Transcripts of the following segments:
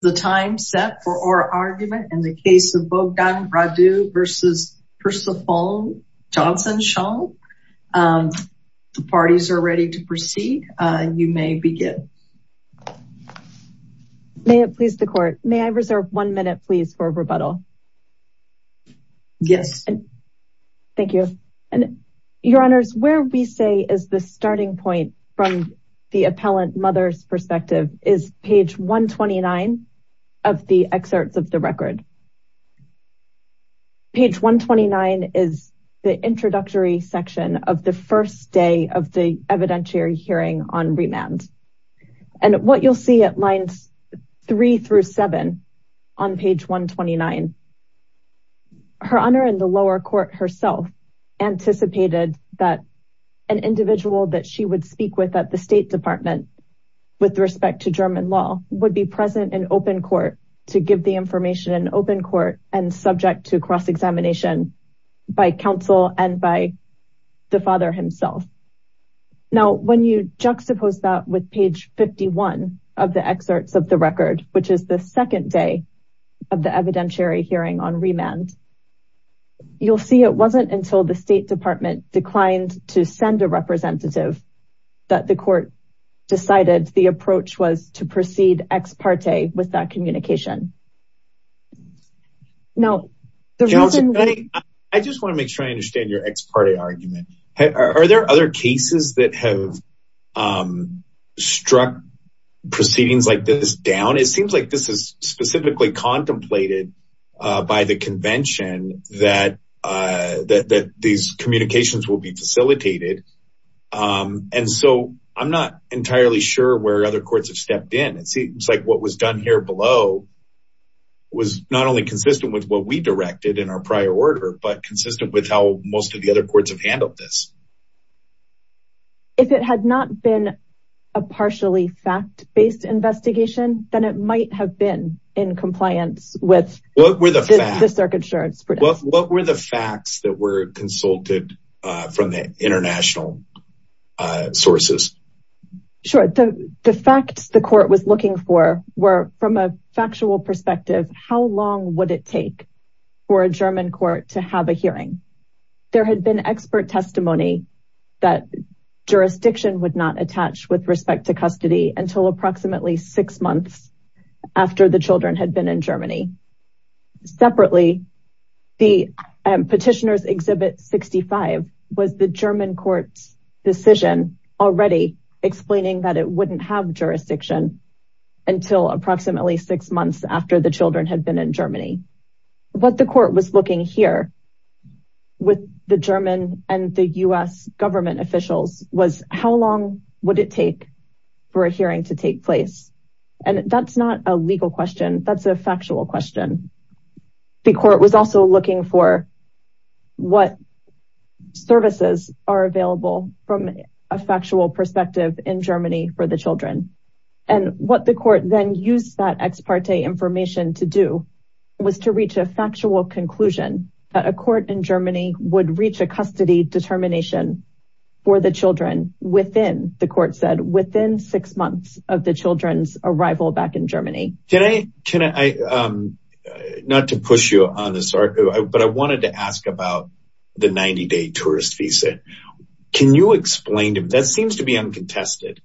The time set for our argument in the case of Bogdan Radu v. Persephone Johnson Shon. The parties are ready to proceed. You may begin. May it please the court, may I reserve one minute, please, for rebuttal? Yes. Thank you. And your honors, where we say is the starting point from the appellant mother's perspective is page 129 of the excerpts of the record. Page 129 is the introductory section of the first day of the evidentiary hearing on remand. And what you'll see at lines three through seven on page 129, her honor in the lower court herself anticipated that an individual that she would speak with at the state department with respect to German law would be present in open court to give the information in open court and subject to cross-examination by counsel and by the father himself. Now when you juxtapose that with page 51 of the excerpts of the record, which is the second day of the evidentiary hearing on remand, you'll see it wasn't until the state department declined to send a representative that the court decided the approach was to proceed ex parte with that communication. Now, I just want to make sure I understand your ex parte argument. Are there other cases that have struck proceedings like this down? It seems like this is specifically contemplated by the convention that these communications will be facilitated. And so I'm not entirely sure where other courts have stepped in. It seems like what was done here below was not only consistent with what we directed in our prior order, but consistent with how most of the other courts have handled this. If it had not been a partially fact-based investigation, then it might have been in compliance with the circuit. What were the facts that were consulted from the international sources? Sure. The facts the court was looking for were from a factual perspective, how long would it take for a German court to have a hearing? There had been expert testimony that jurisdiction would not attach with respect to custody until approximately six months after the children had been in Germany. Separately, the Petitioner's Exhibit 65 was the German court's decision already explaining that it wouldn't have jurisdiction until approximately six months after the children had been in Germany. What the court was looking here with the German and the U.S. government officials was how long would it take for a hearing to take place? And that's not a legal question. That's a factual question. The court was also looking for what services are available from a factual perspective in Germany for the children. And what the court then used that ex parte information to do was to reach a factual conclusion that a court in Germany would reach a custody determination for the children within, the court said, within six months of the children's arrival back in Germany. Can I, not to push you on this, but I wanted to ask about the 90-day tourist visa. Can you explain to me, that seems to be uncontested,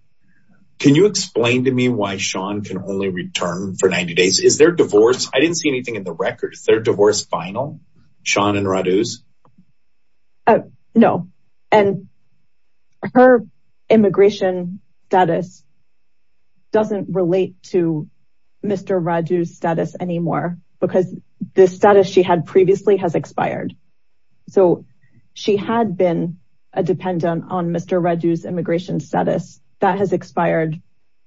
can you explain to me why Sean can only return for 90 days? Is their divorce, I didn't see anything in the record, is their divorce final, Sean and Raduz? No, and her immigration status doesn't relate to Mr. Radu's status anymore, because the status she had previously has expired. So she had been a dependent on Mr. Radu's immigration status that has expired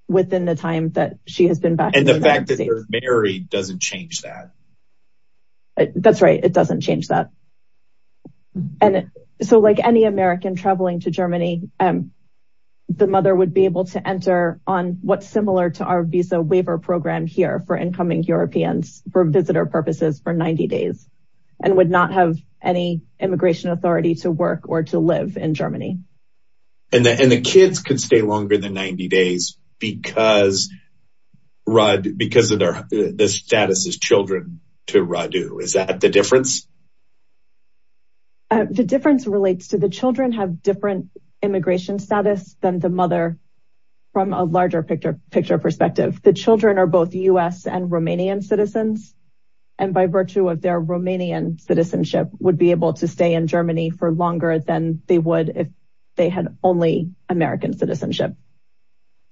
within the time that she has been back. And the fact that they're married doesn't change that. That's right. It doesn't change that. And so like any American traveling to Germany, the mother would be able to enter on what's similar to our visa waiver program here for incoming Europeans for visitor purposes for 90 days, and would not have any immigration authority to work or to live in Germany. And the kids could stay longer than 90 days because of the status as children to Radu, is that the difference? The difference relates to the children have different immigration status than the mother from a larger picture perspective. The children are both US and Romanian citizens, and by virtue of their Romanian citizenship would be able to stay in Germany for longer than they would if they had only American citizenship.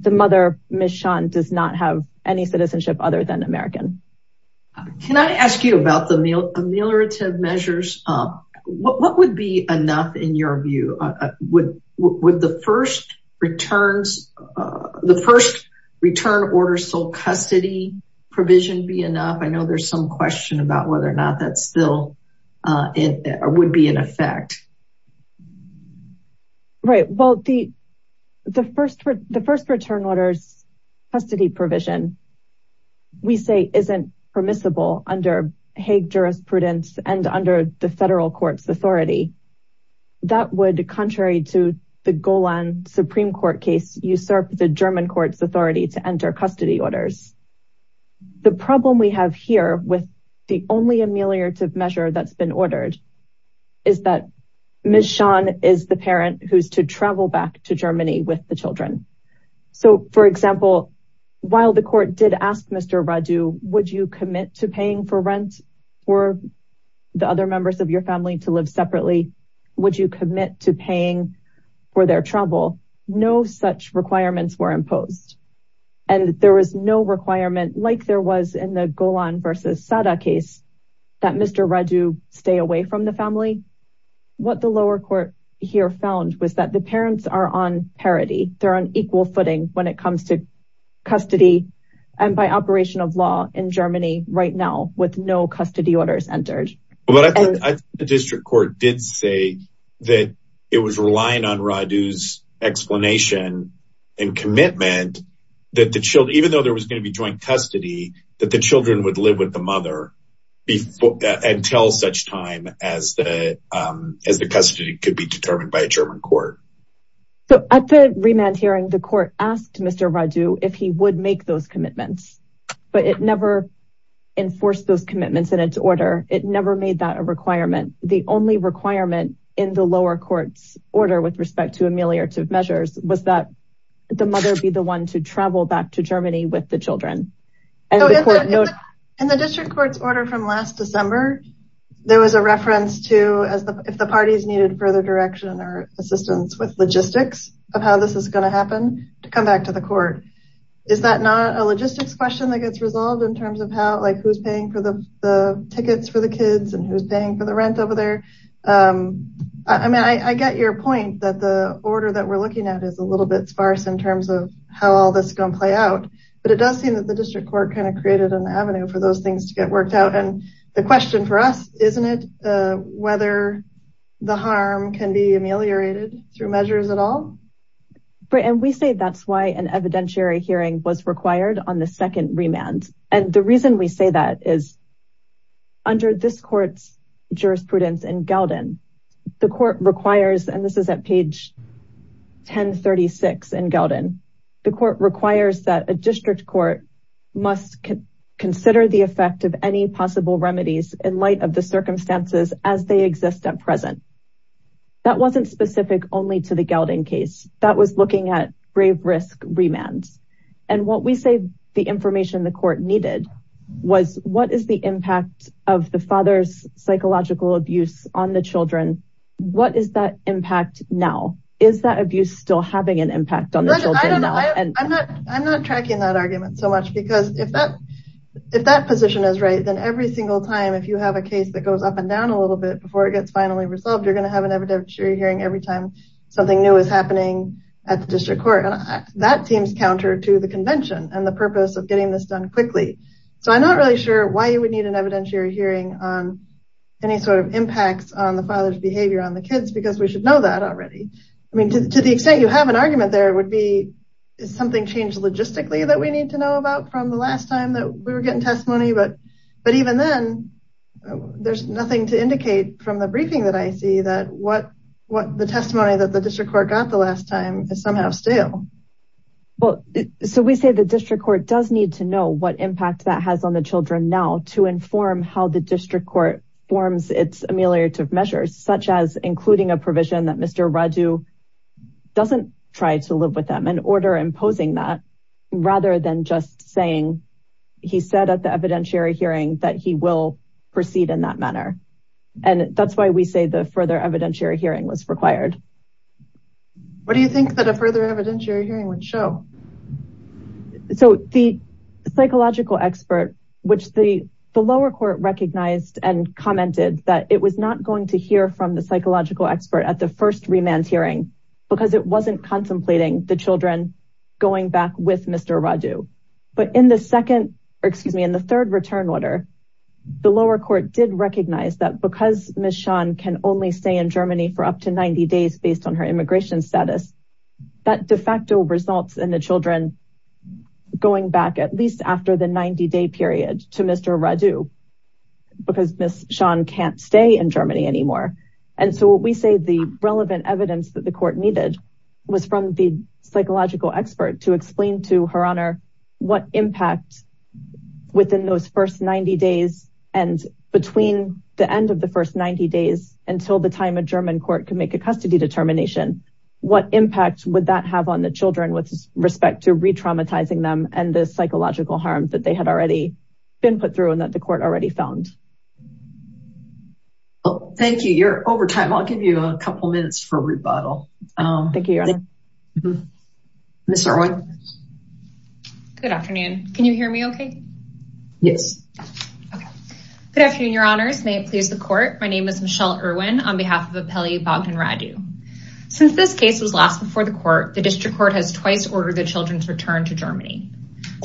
The mother, Ms. Sean, does not have any citizenship other than American. Can I ask you about the ameliorative measures? What would be enough in your view? Would the first return order sole custody provision be enough? I know there's some question about whether or not that still would be in effect. Right. The first return order's custody provision, we say, isn't permissible under Hague jurisprudence and under the federal court's authority. That would, contrary to the Golan Supreme Court case, usurp the German court's authority to enter custody orders. The problem we have here with the only ameliorative measure that's been ordered is that Ms. Sean is allowed to travel back to Germany with the children. So, for example, while the court did ask Mr. Radu, would you commit to paying for rent for the other members of your family to live separately? Would you commit to paying for their travel? No such requirements were imposed. And there was no requirement like there was in the Golan versus Sada case that Mr. Radu stay away from the family. What the lower court here found was that the parents are on parity. They're on equal footing when it comes to custody and by operation of law in Germany right now with no custody orders entered. The district court did say that it was relying on Radu's explanation and commitment that the children, even though there was going to be joint custody, that the children would the mother until such time as the custody could be determined by a German court. So at the remand hearing, the court asked Mr. Radu if he would make those commitments, but it never enforced those commitments in its order. It never made that a requirement. The only requirement in the lower court's order with respect to ameliorative measures was that the mother be the one to travel back to Germany with the children. And in the district court's order from last December, there was a reference to if the parties needed further direction or assistance with logistics of how this is going to happen to come back to the court. Is that not a logistics question that gets resolved in terms of how, like who's paying for the tickets for the kids and who's paying for the rent over there? I mean, I get your point that the order that we're looking at is a little bit sparse in terms of how all this is going to play out. But it does seem that the district court kind of created an avenue for those things to get worked out. And the question for us, isn't it whether the harm can be ameliorated through measures at all? And we say that's why an evidentiary hearing was required on the second remand. And the reason we say that is under this court's jurisprudence in Gelden, the court requires, and this is at page 1036 in Gelden, the court requires that a district court must consider the effect of any possible remedies in light of the circumstances as they exist at present. That wasn't specific only to the Gelden case that was looking at grave risk remands. And what we say the information the court needed was what is the impact of the father's psychological abuse on the children? What is that impact now? Is that abuse still having an impact on the children now? I'm not tracking that argument so much because if that position is right, then every single time if you have a case that goes up and down a little bit before it gets finally resolved, you're going to have an evidentiary hearing every time something new is happening at the district court. And that seems counter to the convention and the purpose of getting this done quickly. So I'm not really sure why you would need an evidentiary hearing on any sort of impacts on the father's behavior on the kids because we should know that already. I mean, to the extent you have an argument, there would be something changed logistically that we need to know about from the last time that we were getting testimony. But even then, there's nothing to indicate from the briefing that I see that what the testimony that the district court got the last time is somehow still. Well, so we say the district court does need to know what impact that has on the children now to inform how the district court forms its ameliorative measures, such as including a provision that Mr. Radu doesn't try to live with them and order imposing that rather than just saying he said at the evidentiary hearing that he will proceed in that manner. And that's why we say the further evidentiary hearing was required. What do you think that a further evidentiary hearing would show? So the psychological expert, which the lower court recognized and commented that it was not going to hear from the psychological expert at the first remand hearing because it wasn't contemplating the children going back with Mr. Radu. But in the second, excuse me, in the third return order, the lower court did recognize that because Ms. Shawn can only stay in Germany for up to 90 days based on her immigration status that de facto results in the children going back at least after the 90 day period to Mr. Radu because Ms. Shawn can't stay in Germany anymore. And so what we say the relevant evidence that the court needed was from the psychological expert to explain to her honor what impact within those first 90 days and between the end of the first 90 days until the time a German court can make a custody determination what impact would that have on the children with respect to re-traumatizing them and the psychological harm that they had already been put through and that the court already found. Oh, thank you. You're over time. I'll give you a couple minutes for rebuttal. Thank you, your honor. Ms. Irwin. Good afternoon. Can you hear me okay? Yes. Okay. Good afternoon, your honors. May it please the court. My name is Michelle Irwin on behalf of Appelli, Bogdan Radu. Since this case was last before the court, the district court has twice ordered the children's return to Germany.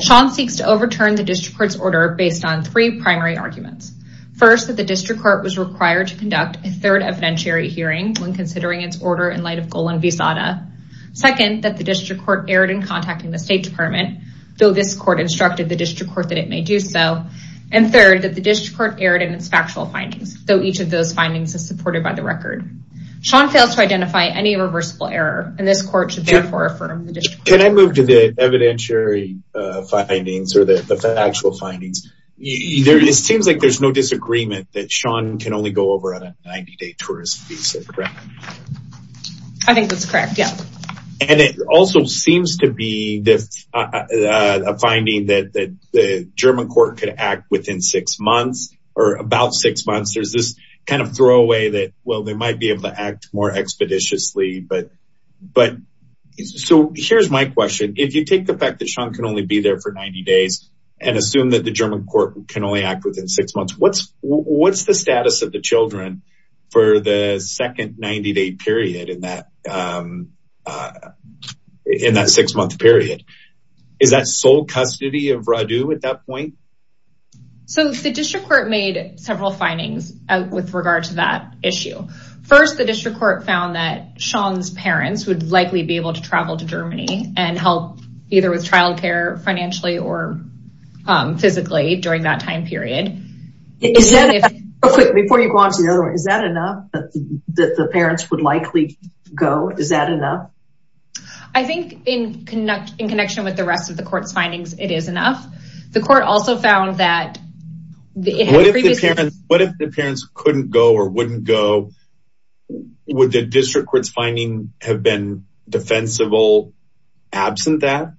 Shawn seeks to overturn the district court's order based on three primary arguments. First, that the district court was required to conduct a third evidentiary hearing when considering its order in light of Golan Visada. Second, that the district court erred in contacting the State Department, though this court instructed the district court that it may do so. And third, that the district court erred in its factual findings, though each of those findings is supported by the record. Shawn fails to identify any reversible error and this court should therefore affirm the district court. Can I move to the evidentiary findings or the actual findings? It seems like there's no disagreement that Shawn can only go over on a 90-day tourist visa, correct? I think that's correct, yeah. And it also seems to be a finding that the German court could act within six months or about six months. There's this kind of throwaway that, well, they might be able to act more expeditiously. So here's my question. If you take the fact that Shawn can only be there for 90 days and assume that the German court can only act within six months, what's the status of the children for the second 90-day period in that six-month period? Is that sole custody of Radu at that point? So the district court made several findings with regard to that issue. First, the district court found that Shawn's parents would likely be able to travel to Germany and help either with child care financially or physically during that time period. Before you go on to the other one, is that enough that the parents would likely go? Is that enough? I think in connection with the rest of the court's findings, it is enough. The court also found that... What if the parents couldn't go or wouldn't go? Would the district court's finding have been defensible absent that?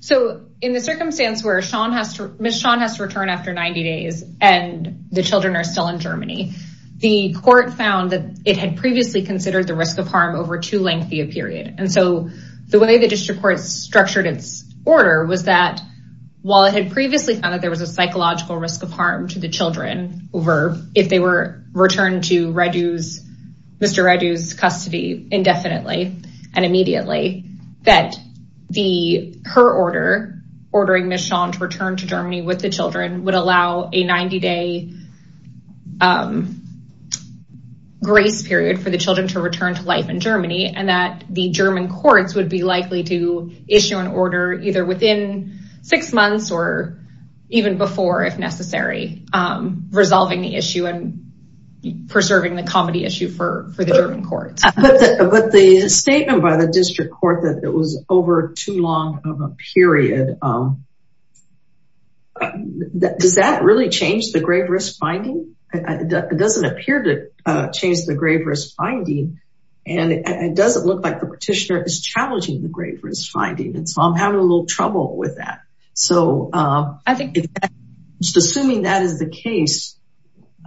So in the circumstance where Shawn has to return after 90 days and the children are still in Germany, the court found that it had previously considered the risk of harm over too lengthy a period. The way the district court structured its order was that while it had previously found that there was a psychological risk of harm to the children over if they were returned to Mr. Radu's custody indefinitely and immediately, that her order ordering Ms. Shawn to return to Germany with the children would allow a 90-day grace period for the courts to issue an order within six months or even before, if necessary, resolving the issue and preserving the comedy issue for the German courts. But the statement by the district court that it was over too long of a period, does that really change the grave risk finding? It doesn't appear to change the grave risk finding and it doesn't look like the petitioner is challenging the grave risk finding. And so I'm having a little trouble with that. So assuming that is the case,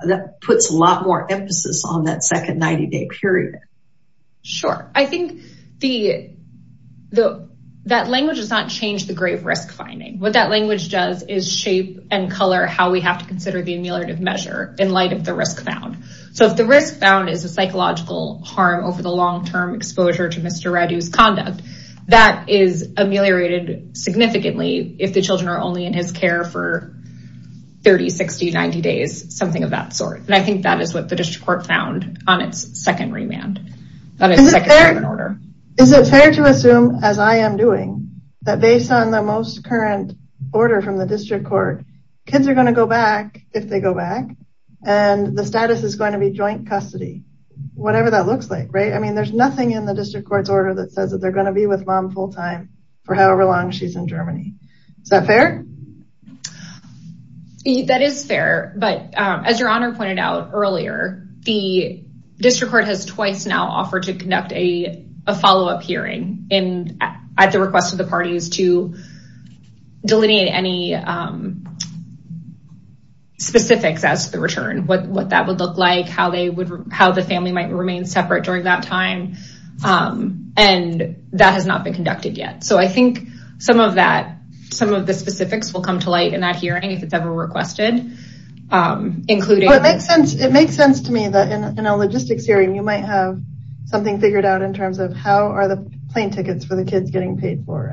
that puts a lot more emphasis on that second 90-day period. Sure. I think that language does not change the grave risk finding. What that language does is shape and color how we have to consider the ameliorative measure in light of the risk found. So if the risk found is a psychological harm over the long-term exposure to Mr. Radu's conduct, that is ameliorated significantly if the children are only in his care for 30, 60, 90 days, something of that sort. And I think that is what the district court found on its second remand. Is it fair to assume, as I am doing, that based on the most current order from the district court, kids are going to go back if they go back and the status is going to be joint custody, whatever that looks like, right? I mean, there's nothing in the district court's order that says that they're going to be with mom full-time for however long she's in Germany. Is that fair? That is fair. But as your honor pointed out earlier, the district court has twice now offered to conduct a follow-up hearing at the request of the parties to delineate any specifics as to the return, what that would look like, how the family might remain separate during that time. And that has not been conducted yet. So I think some of the specifics will come to light in that hearing if it's ever requested. It makes sense to me that in a logistics hearing, you might have something figured out in terms of how are the plane tickets for the kids getting paid for.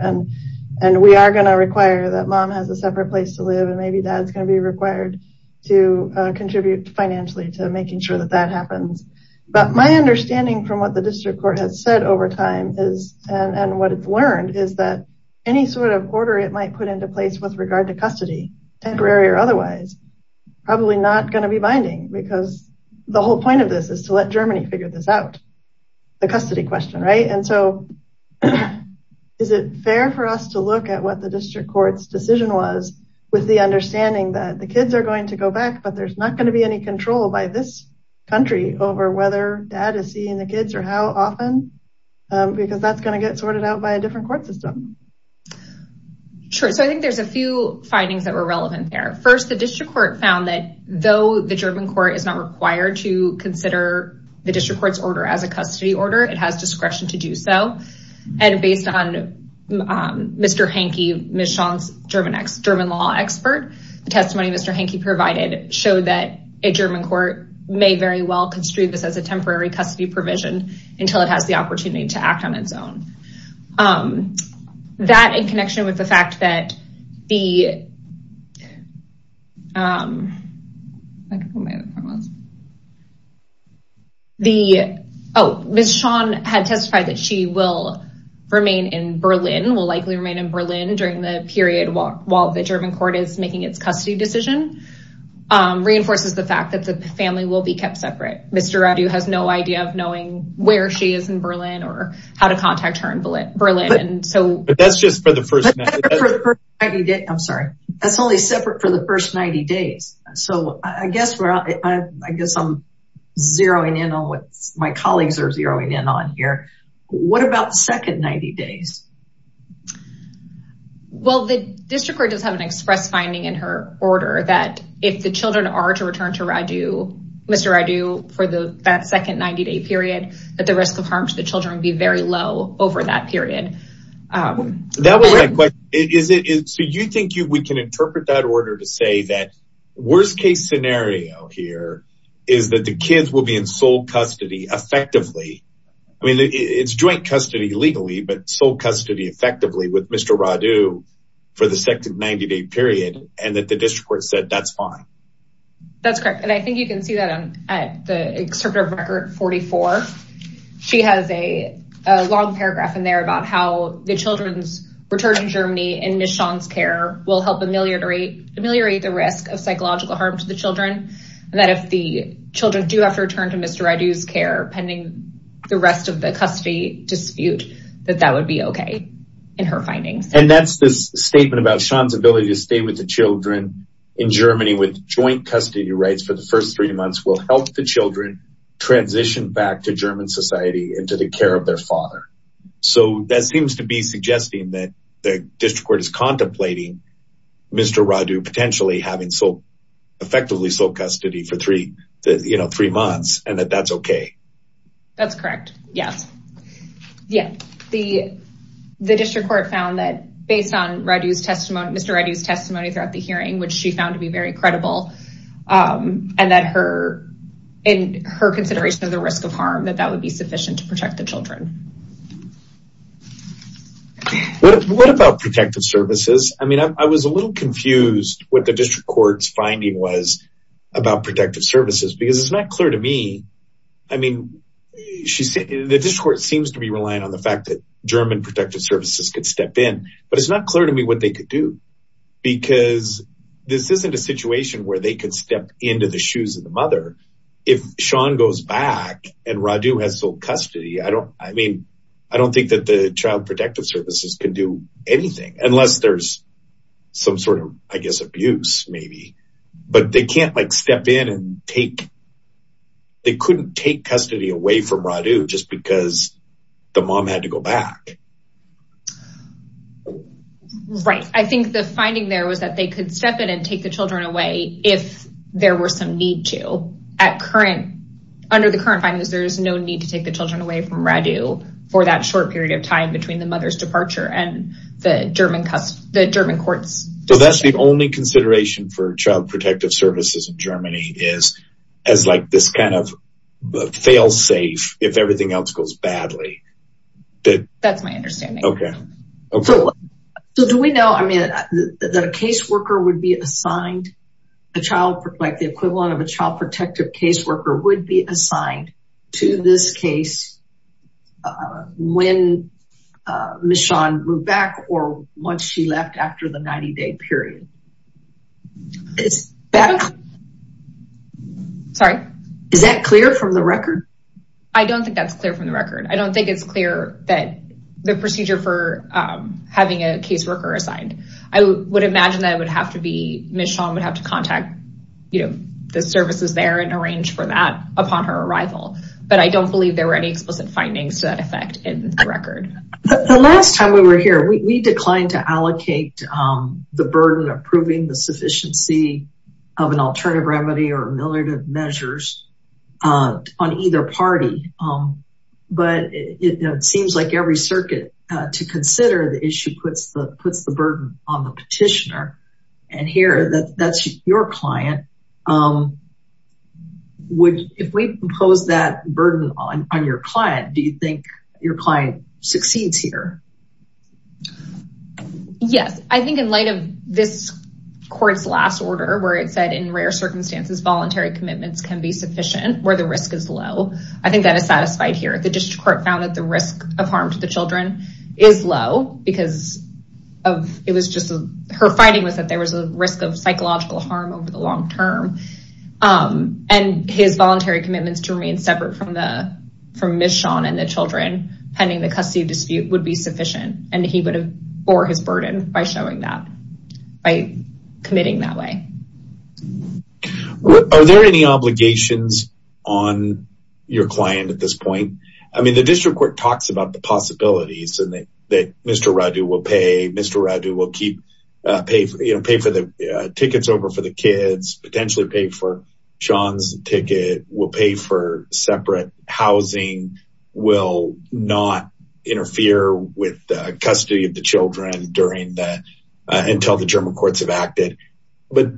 And we are going to require that mom has a separate place to live and maybe dad's going to be required to contribute financially to making sure that that happens. But my understanding from what the district court has said over time is, and what it's learned, is that any sort of order it might put into place with regard to custody, temporary or otherwise, probably not going to be binding. Because the whole point of this is to let Germany figure this out, the custody question, right? And so is it fair for us to look at what the district court's decision was with the understanding that the kids are going to go back, but there's not going to be any control by this country over whether dad is seeing the kids or how often? Because that's going to get sorted out by a different court system. Sure. So I think there's a few findings that were relevant there. First, the district court found that though the German court is not required to consider the district court's order as a custody order, it has discretion to do so. And based on Mr. Hanke, Ms. Chong's German law expert, the testimony Mr. Hanke provided showed that a German court may very well construe this as a temporary custody provision until it has the opportunity to act on its own. Um, that in connection with the fact that the, um, the, oh, Ms. Chong had testified that she will remain in Berlin, will likely remain in Berlin during the period while the German court is making its custody decision, reinforces the fact that the family will be kept separate. Mr. Raidu has no idea of knowing where she is in Berlin or how to contact her in Berlin. But that's just for the first 90 days. I'm sorry. That's only separate for the first 90 days. So I guess I'm zeroing in on what my colleagues are zeroing in on here. What about second 90 days? Well, the district court does have an express finding in her order that if the children are to return to Mr. Raidu for the second 90 day period, that the risk of harm to the children would be very low over that period. That wasn't a question, is it? So you think we can interpret that order to say that worst case scenario here is that the kids will be in sole custody effectively. I mean, it's joint custody legally, but sole custody effectively with Mr. Raidu for the second 90 day period and that the district court said that's fine. That's correct. And I think you can see that at the excerpt of record 44. She has a long paragraph in there about how the children's return to Germany and Ms. Sean's care will help ameliorate the risk of psychological harm to the children. And that if the children do have to return to Mr. Raidu's care pending the rest of the custody dispute, that that would be OK in her findings. And that's this statement about Sean's ability to stay with the children in Germany with joint custody rights for the first three months will help the children transition back to German society and to the care of their father. So that seems to be suggesting that the district court is contemplating Mr. Raidu potentially having effectively sole custody for three months and that that's OK. That's correct. Yes. Yeah, the district court found that based on Mr. Raidu's testimony throughout the hearing, which she found to be very credible and that her in her consideration of the risk of harm, that that would be sufficient to protect the children. What about protective services? I mean, I was a little confused what the district court's finding was about protective services, because it's not clear to me. I mean, the district court seems to be relying on the fact that German protective services could step in, but it's not clear to me what they could do. Because this isn't a situation where they could step into the shoes of the mother. If Sean goes back and Raidu has sole custody, I don't I mean, I don't think that the child protective services can do anything unless there's some sort of, I guess, abuse, maybe. But they can't like step in and take. They couldn't take custody away from Raidu just because the mom had to go back. Right. I think the finding there was that they could step in and take the children away if there were some need to at current, under the current findings, there is no need to take the children away from Raidu for that short period of time between the mother's departure and the German, the German courts. So that's the only consideration for child protective services in Germany is as like this kind of fail safe if everything else goes badly. That's my understanding. Okay. So do we know, I mean, the caseworker would be assigned a child like the equivalent of a child protective caseworker would be assigned to this case when Ms. Sean moved back or once she left after the 90 day period. Is that. Sorry. Is that clear from the record? I don't think that's clear from the record. I don't think it's clear that the procedure for having a caseworker assigned. I would imagine that it would have to be Ms. Sean would have to contact, you know, the services there and arrange for that upon her arrival. But I don't believe there were any explicit findings to that effect in the record. The last time we were here, we declined to allocate the burden of proving the sufficiency of an alternative remedy or ameliorative measures on either party. But it seems like every circuit to consider the issue puts the burden on the petitioner. And here that's your client. If we impose that burden on your client, do you think your client succeeds here? Yes, I think in light of this court's last order, where it said in rare circumstances, voluntary commitments can be sufficient where the risk is low. I think that is satisfied here. The district court found that the risk of harm to the children is low because of, it was just her finding was that there was a risk of psychological harm over the long term. And his voluntary commitments to remain separate from Ms. Sean and the children pending the custody dispute would be sufficient. And he would have bore his burden by showing that by committing that way. Are there any obligations on your client at this point? I mean, the district court talks about the possibilities that Mr. Radu will pay. Mr. Radu will pay for the tickets over for the kids, potentially pay for Sean's ticket, will pay for separate housing, will not interfere with the custody of the children until the German courts have acted. But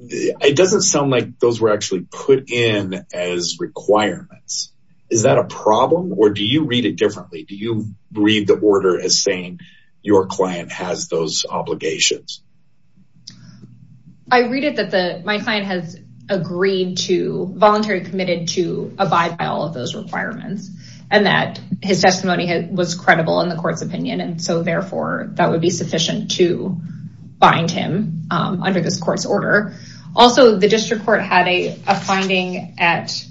it doesn't sound like those were actually put in as requirements. Is that a problem? Or do you read it differently? Do you read the order as saying your client has those obligations? I read it that my client has agreed to, voluntary committed to abide by all of those requirements. And that his testimony was credible in the court's opinion. So therefore, that would be sufficient to bind him under this court's order. Also, the district court had a finding at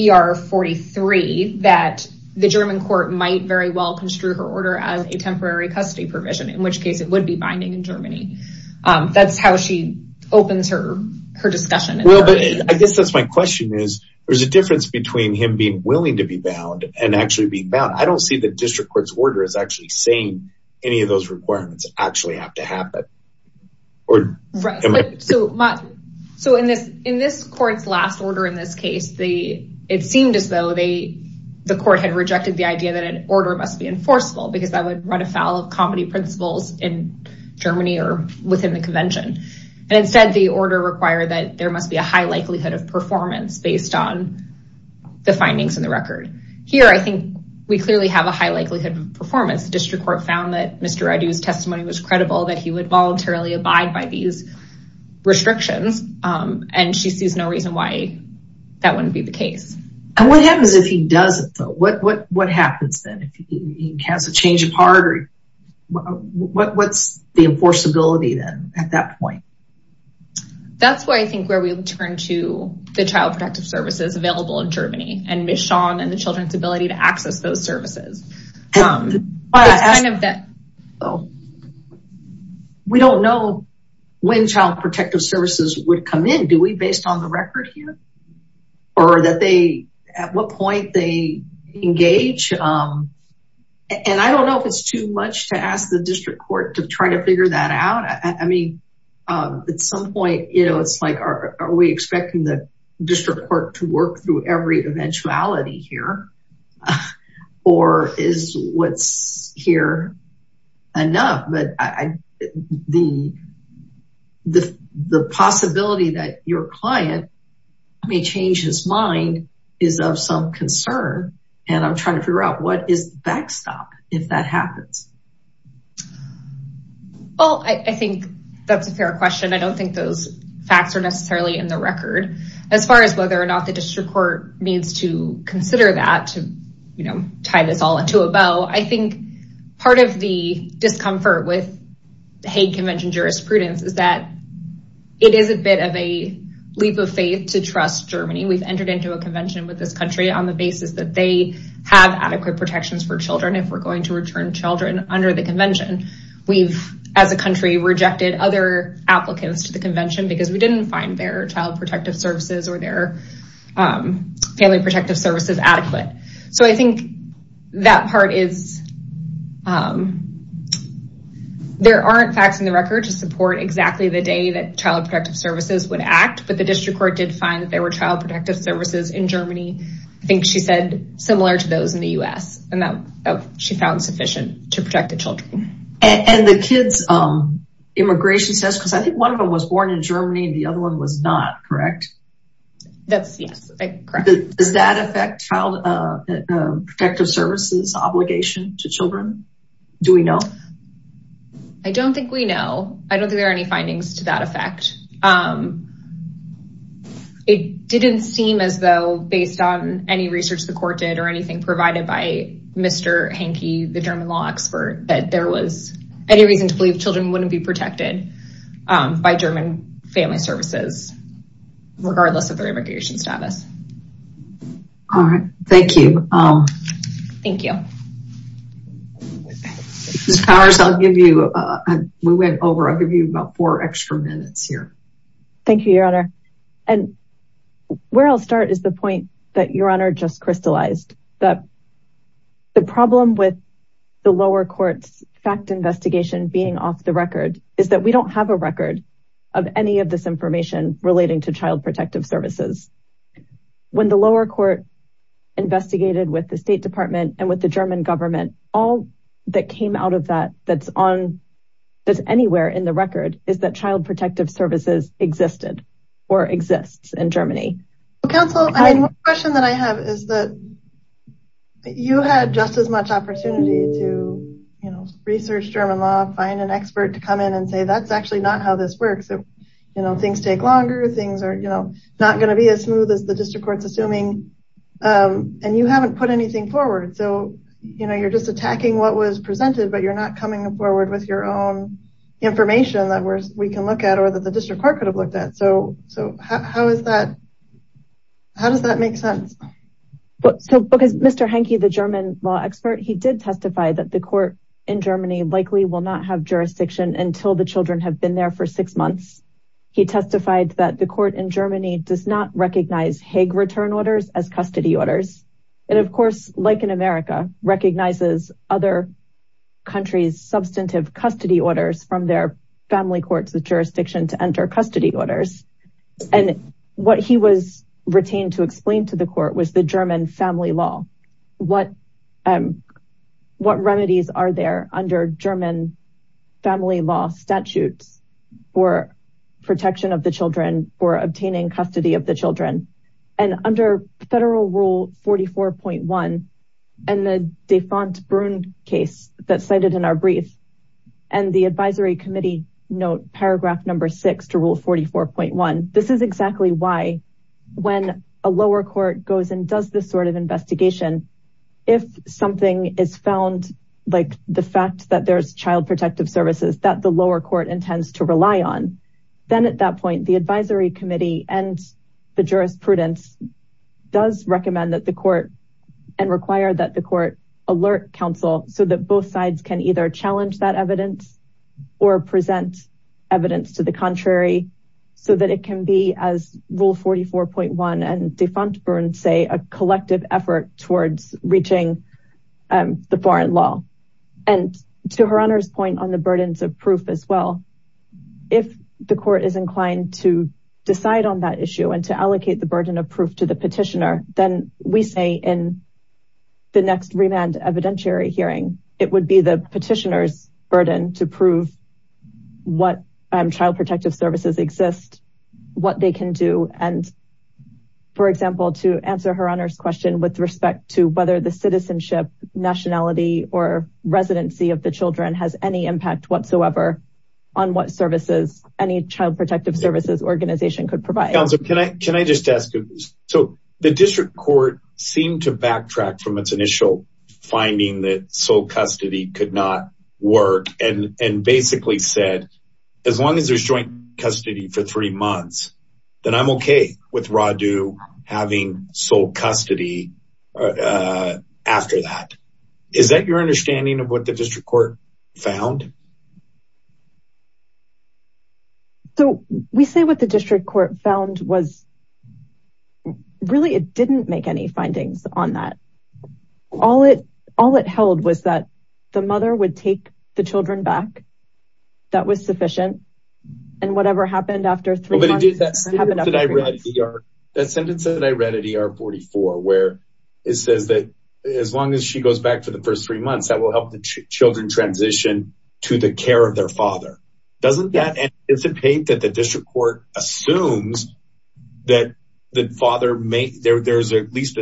ER 43 that the German court might very well construe her order as a temporary custody provision, in which case it would be binding in Germany. That's how she opens her discussion. I guess that's my question is, there's a difference between him being willing to be bound and actually being bound. I don't see the district court's order as actually saying any of those requirements actually have to happen. So in this court's last order in this case, it seemed as though the court had rejected the idea that an order must be enforceable because that would run afoul of comedy principles in Germany or within the convention. And instead, the order required that there must be a high likelihood of performance based on the findings in the record. Here, I think we clearly have a high likelihood of performance. The district court found that Mr. Reddy's testimony was credible that he would voluntarily abide by these restrictions. And she sees no reason why that wouldn't be the case. And what happens if he doesn't, though? What happens then? If he has a change of heart or what's the enforceability then at that point? That's why I think where we'll turn to the child protective services available in Germany and Ms. Shawn and the children's ability to access those services. We don't know when child protective services would come in. Do we based on the record here? Or at what point they engage? And I don't know if it's too much to ask the district court to try to figure that out. I mean, at some point, it's like, are we expecting the district court to work through every eventuality here? Or is what's here enough? But the possibility that your client may change his mind is of some concern. And I'm trying to figure out what is the backstop if that happens? Well, I think that's a fair question. As far as whether or not the district court needs to consider that to tie this all into a bow, I think part of the discomfort with Hague Convention jurisprudence is that it is a bit of a leap of faith to trust Germany. We've entered into a convention with this country on the basis that they have adequate protections for children if we're going to return children under the convention. We've, as a country, rejected other applicants to the convention because we didn't find their protective services or their family protective services adequate. So I think that part is, there aren't facts in the record to support exactly the day that child protective services would act. But the district court did find that there were child protective services in Germany, I think she said, similar to those in the U.S. And that she found sufficient to protect the children. And the kids' immigration status, because I think one of them was born in Germany, the other one was not, correct? That's, yes, correct. Does that affect child protective services obligation to children? Do we know? I don't think we know. I don't think there are any findings to that effect. It didn't seem as though, based on any research the court did or anything provided by Mr. Hanke, the German law expert, that there was any reason to believe children wouldn't be protected by German family services, regardless of their immigration status. All right. Thank you. Thank you. Ms. Powers, I'll give you, we went over, I'll give you about four extra minutes here. Thank you, Your Honor. And where I'll start is the point that Your Honor just crystallized, that the problem with the lower court's fact investigation being off the record is that we don't have a record of any of this information relating to child protective services. When the lower court investigated with the State Department and with the German government, all that came out of that, that's on, that's anywhere in the record, is that child protective services existed or exists in Germany. Counsel, I mean, one question that I have is that you had just as much opportunity to, you know, research German law, find an expert to come in and say, that's actually not how this works. You know, things take longer, things are, you know, not going to be as smooth as the district court's assuming. And you haven't put anything forward. So, you know, you're just attacking what was presented, but you're not coming forward with your own information that we can look at or that the district court could have looked at. So how is that, how does that make sense? Because Mr. Henke, the German law expert, he did testify that the court in Germany likely will not have jurisdiction until the children have been there for six months. He testified that the court in Germany does not recognize Hague return orders as custody orders. And of course, like in America, recognizes other countries' substantive custody orders from their family courts, the jurisdiction to enter custody orders. And what he was retained to explain to the court was the German family law. What remedies are there under German family law statutes for protection of the children for obtaining custody of the children? And under federal rule 44.1, and the defunct Brun case that cited in our brief, and the advisory committee note paragraph number six to rule 44.1. This is exactly why when a lower court goes and does this sort of investigation, if something is found, like the fact that there's child protective services that the lower court intends to rely on, then at that point, the advisory committee and the jurisprudence does recommend that the court and require that the court alert council so that both sides can either challenge that evidence or present evidence to the contrary, so that it can be as rule 44.1 and defunct Brun say a collective effort towards reaching the foreign law. And to Her Honor's point on the burdens of proof as well, if the court is inclined to decide on that issue and to allocate the burden of proof to the petitioner, then we say in the next remand evidentiary hearing, it would be the petitioner's burden to prove what child protective services exist, what they can do. And for example, to answer Her Honor's question with respect to whether the citizenship, nationality, or residency of the children has any impact whatsoever on what services any child protective services organization could provide. Can I just ask you? So the district court seemed to backtrack from its initial finding that sole custody could not work and basically said, as long as there's joint custody for three months, then I'm okay with RADU having sole custody after that. Is that your understanding of what the district court found? So we say what the district court found was, really, it didn't make any findings on that. All it held was that the mother would take the children back. That was sufficient. And whatever happened after three months, it happened after three months. But that sentence that I read at ER44, where it says that as long as she goes back for the first three months, that will help the children transition to the care of their father. Doesn't that anticipate that the district court assumes that there's at least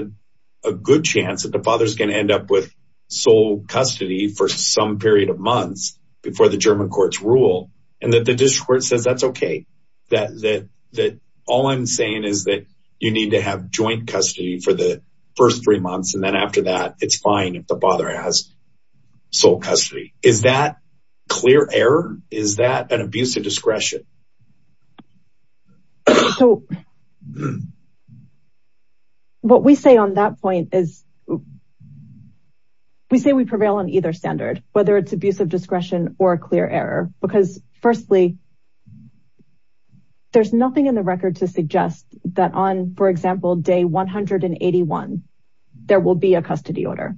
a good chance that the father's going to end up with sole custody for some period of months before the German courts rule? And that the district court says that's okay, that all I'm saying is that you need to have joint custody for the first three months. And then after that, it's fine if the father has sole custody. Is that clear error? Is that an abuse of discretion? So what we say on that point is, we say we prevail on either standard, whether it's abuse of discretion or a clear error. Because firstly, there's nothing in the record to suggest that on, for example, day 181, there will be a custody order.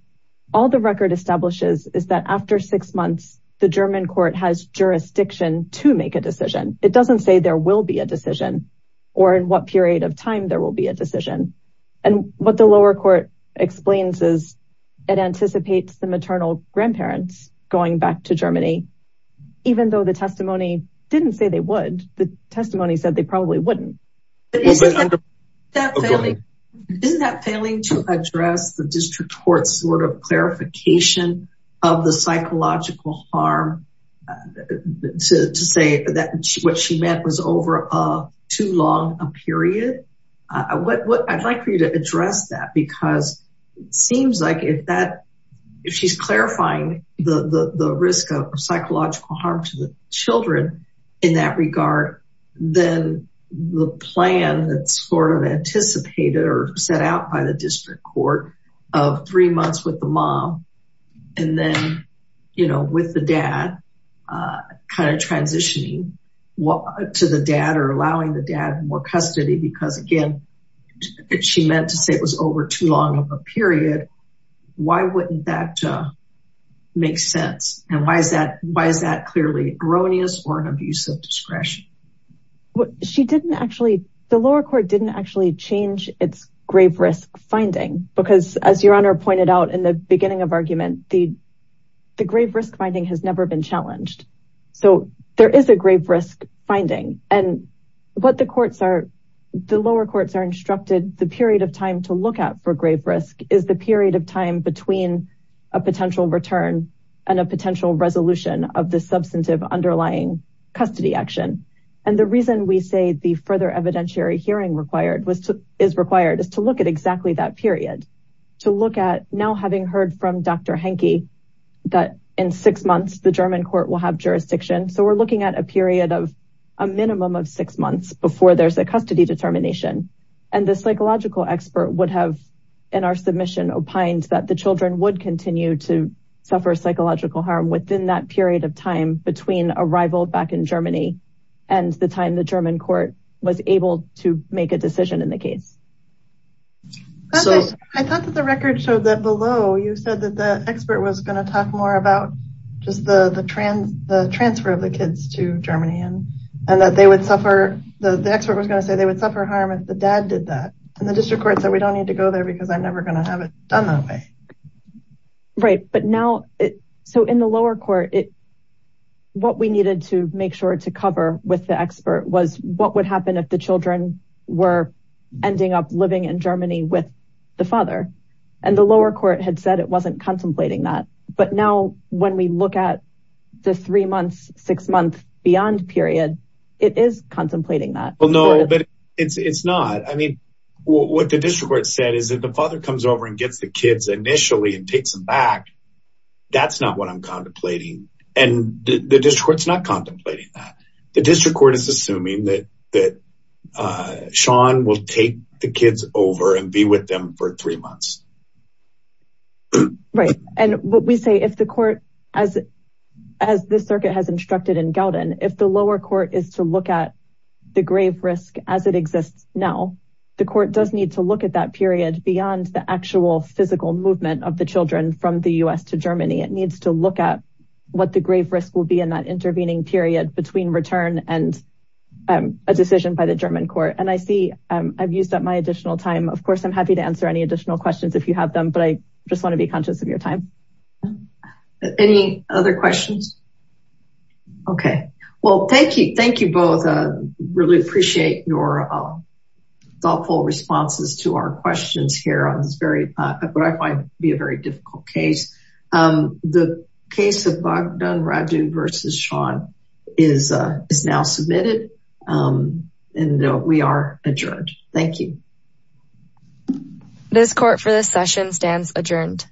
All the record establishes is that after six months, the German court has jurisdiction to make a decision. It doesn't say there will be a decision or in what period of time there will be a decision. And what the lower court explains is, it anticipates the maternal grandparents going back to Germany, even though the testimony didn't say they would, the testimony said they probably wouldn't. Isn't that failing to address the district court's sort of clarification of the psychological harm to say that what she meant was over too long a period? I'd like for you to address that because it seems like if she's clarifying the risk of sort of anticipated or set out by the district court of three months with the mom, and then, you know, with the dad, kind of transitioning to the dad or allowing the dad more custody, because again, she meant to say it was over too long of a period. Why wouldn't that make sense? And why is that clearly erroneous or an abuse of discretion? Well, she didn't actually, the lower court didn't actually change its grave risk finding because as your honor pointed out in the beginning of argument, the grave risk finding has never been challenged. So there is a grave risk finding and what the courts are, the lower courts are instructed the period of time to look at for grave risk is the period of time between a potential return and a potential resolution of the substantive underlying custody action. And the reason we say the further evidentiary hearing is required is to look at exactly that period. To look at now having heard from Dr. Henke that in six months, the German court will have jurisdiction. So we're looking at a period of a minimum of six months before there's a custody determination. And the psychological expert would have in our submission opined that the children would continue to suffer psychological harm within that period of time between arrival back in Germany and the time the German court was able to make a decision in the case. I thought that the record showed that below, you said that the expert was going to talk more about just the transfer of the kids to Germany and that they would suffer. The expert was going to say they would suffer harm if the dad did that. And the district court said, we don't need to go there because I'm never going to have it done that way. Right. But now, so in the lower court, what we needed to make sure to cover with the expert was what would happen if the children were ending up living in Germany with the father. And the lower court had said it wasn't contemplating that. But now when we look at the three months, six months beyond period, it is contemplating that. Well, no, but it's not. I mean, what the district court said is that the father comes over and gets the kids initially and takes them back. That's not what I'm contemplating. And the district court's not contemplating that. The district court is assuming that Sean will take the kids over and be with them for three months. Right. And what we say, if the court, as this circuit has instructed in Gouden, if the lower court is to look at the grave risk as it exists now, the court does need to look at that period beyond the actual physical movement of the children from the U.S. to Germany. It needs to look at what the grave risk will be in that intervening period between return and a decision by the German court. And I see I've used up my additional time. Of course, I'm happy to answer any additional questions if you have them. But I just want to be conscious of your time. Any other questions? Okay. Well, thank you. Thank you both. Really appreciate your thoughtful responses to our questions here on this very, what I find to be a very difficult case. The case of Baghdad Raju versus Sean is now submitted. And we are adjourned. Thank you. This court for this session stands adjourned.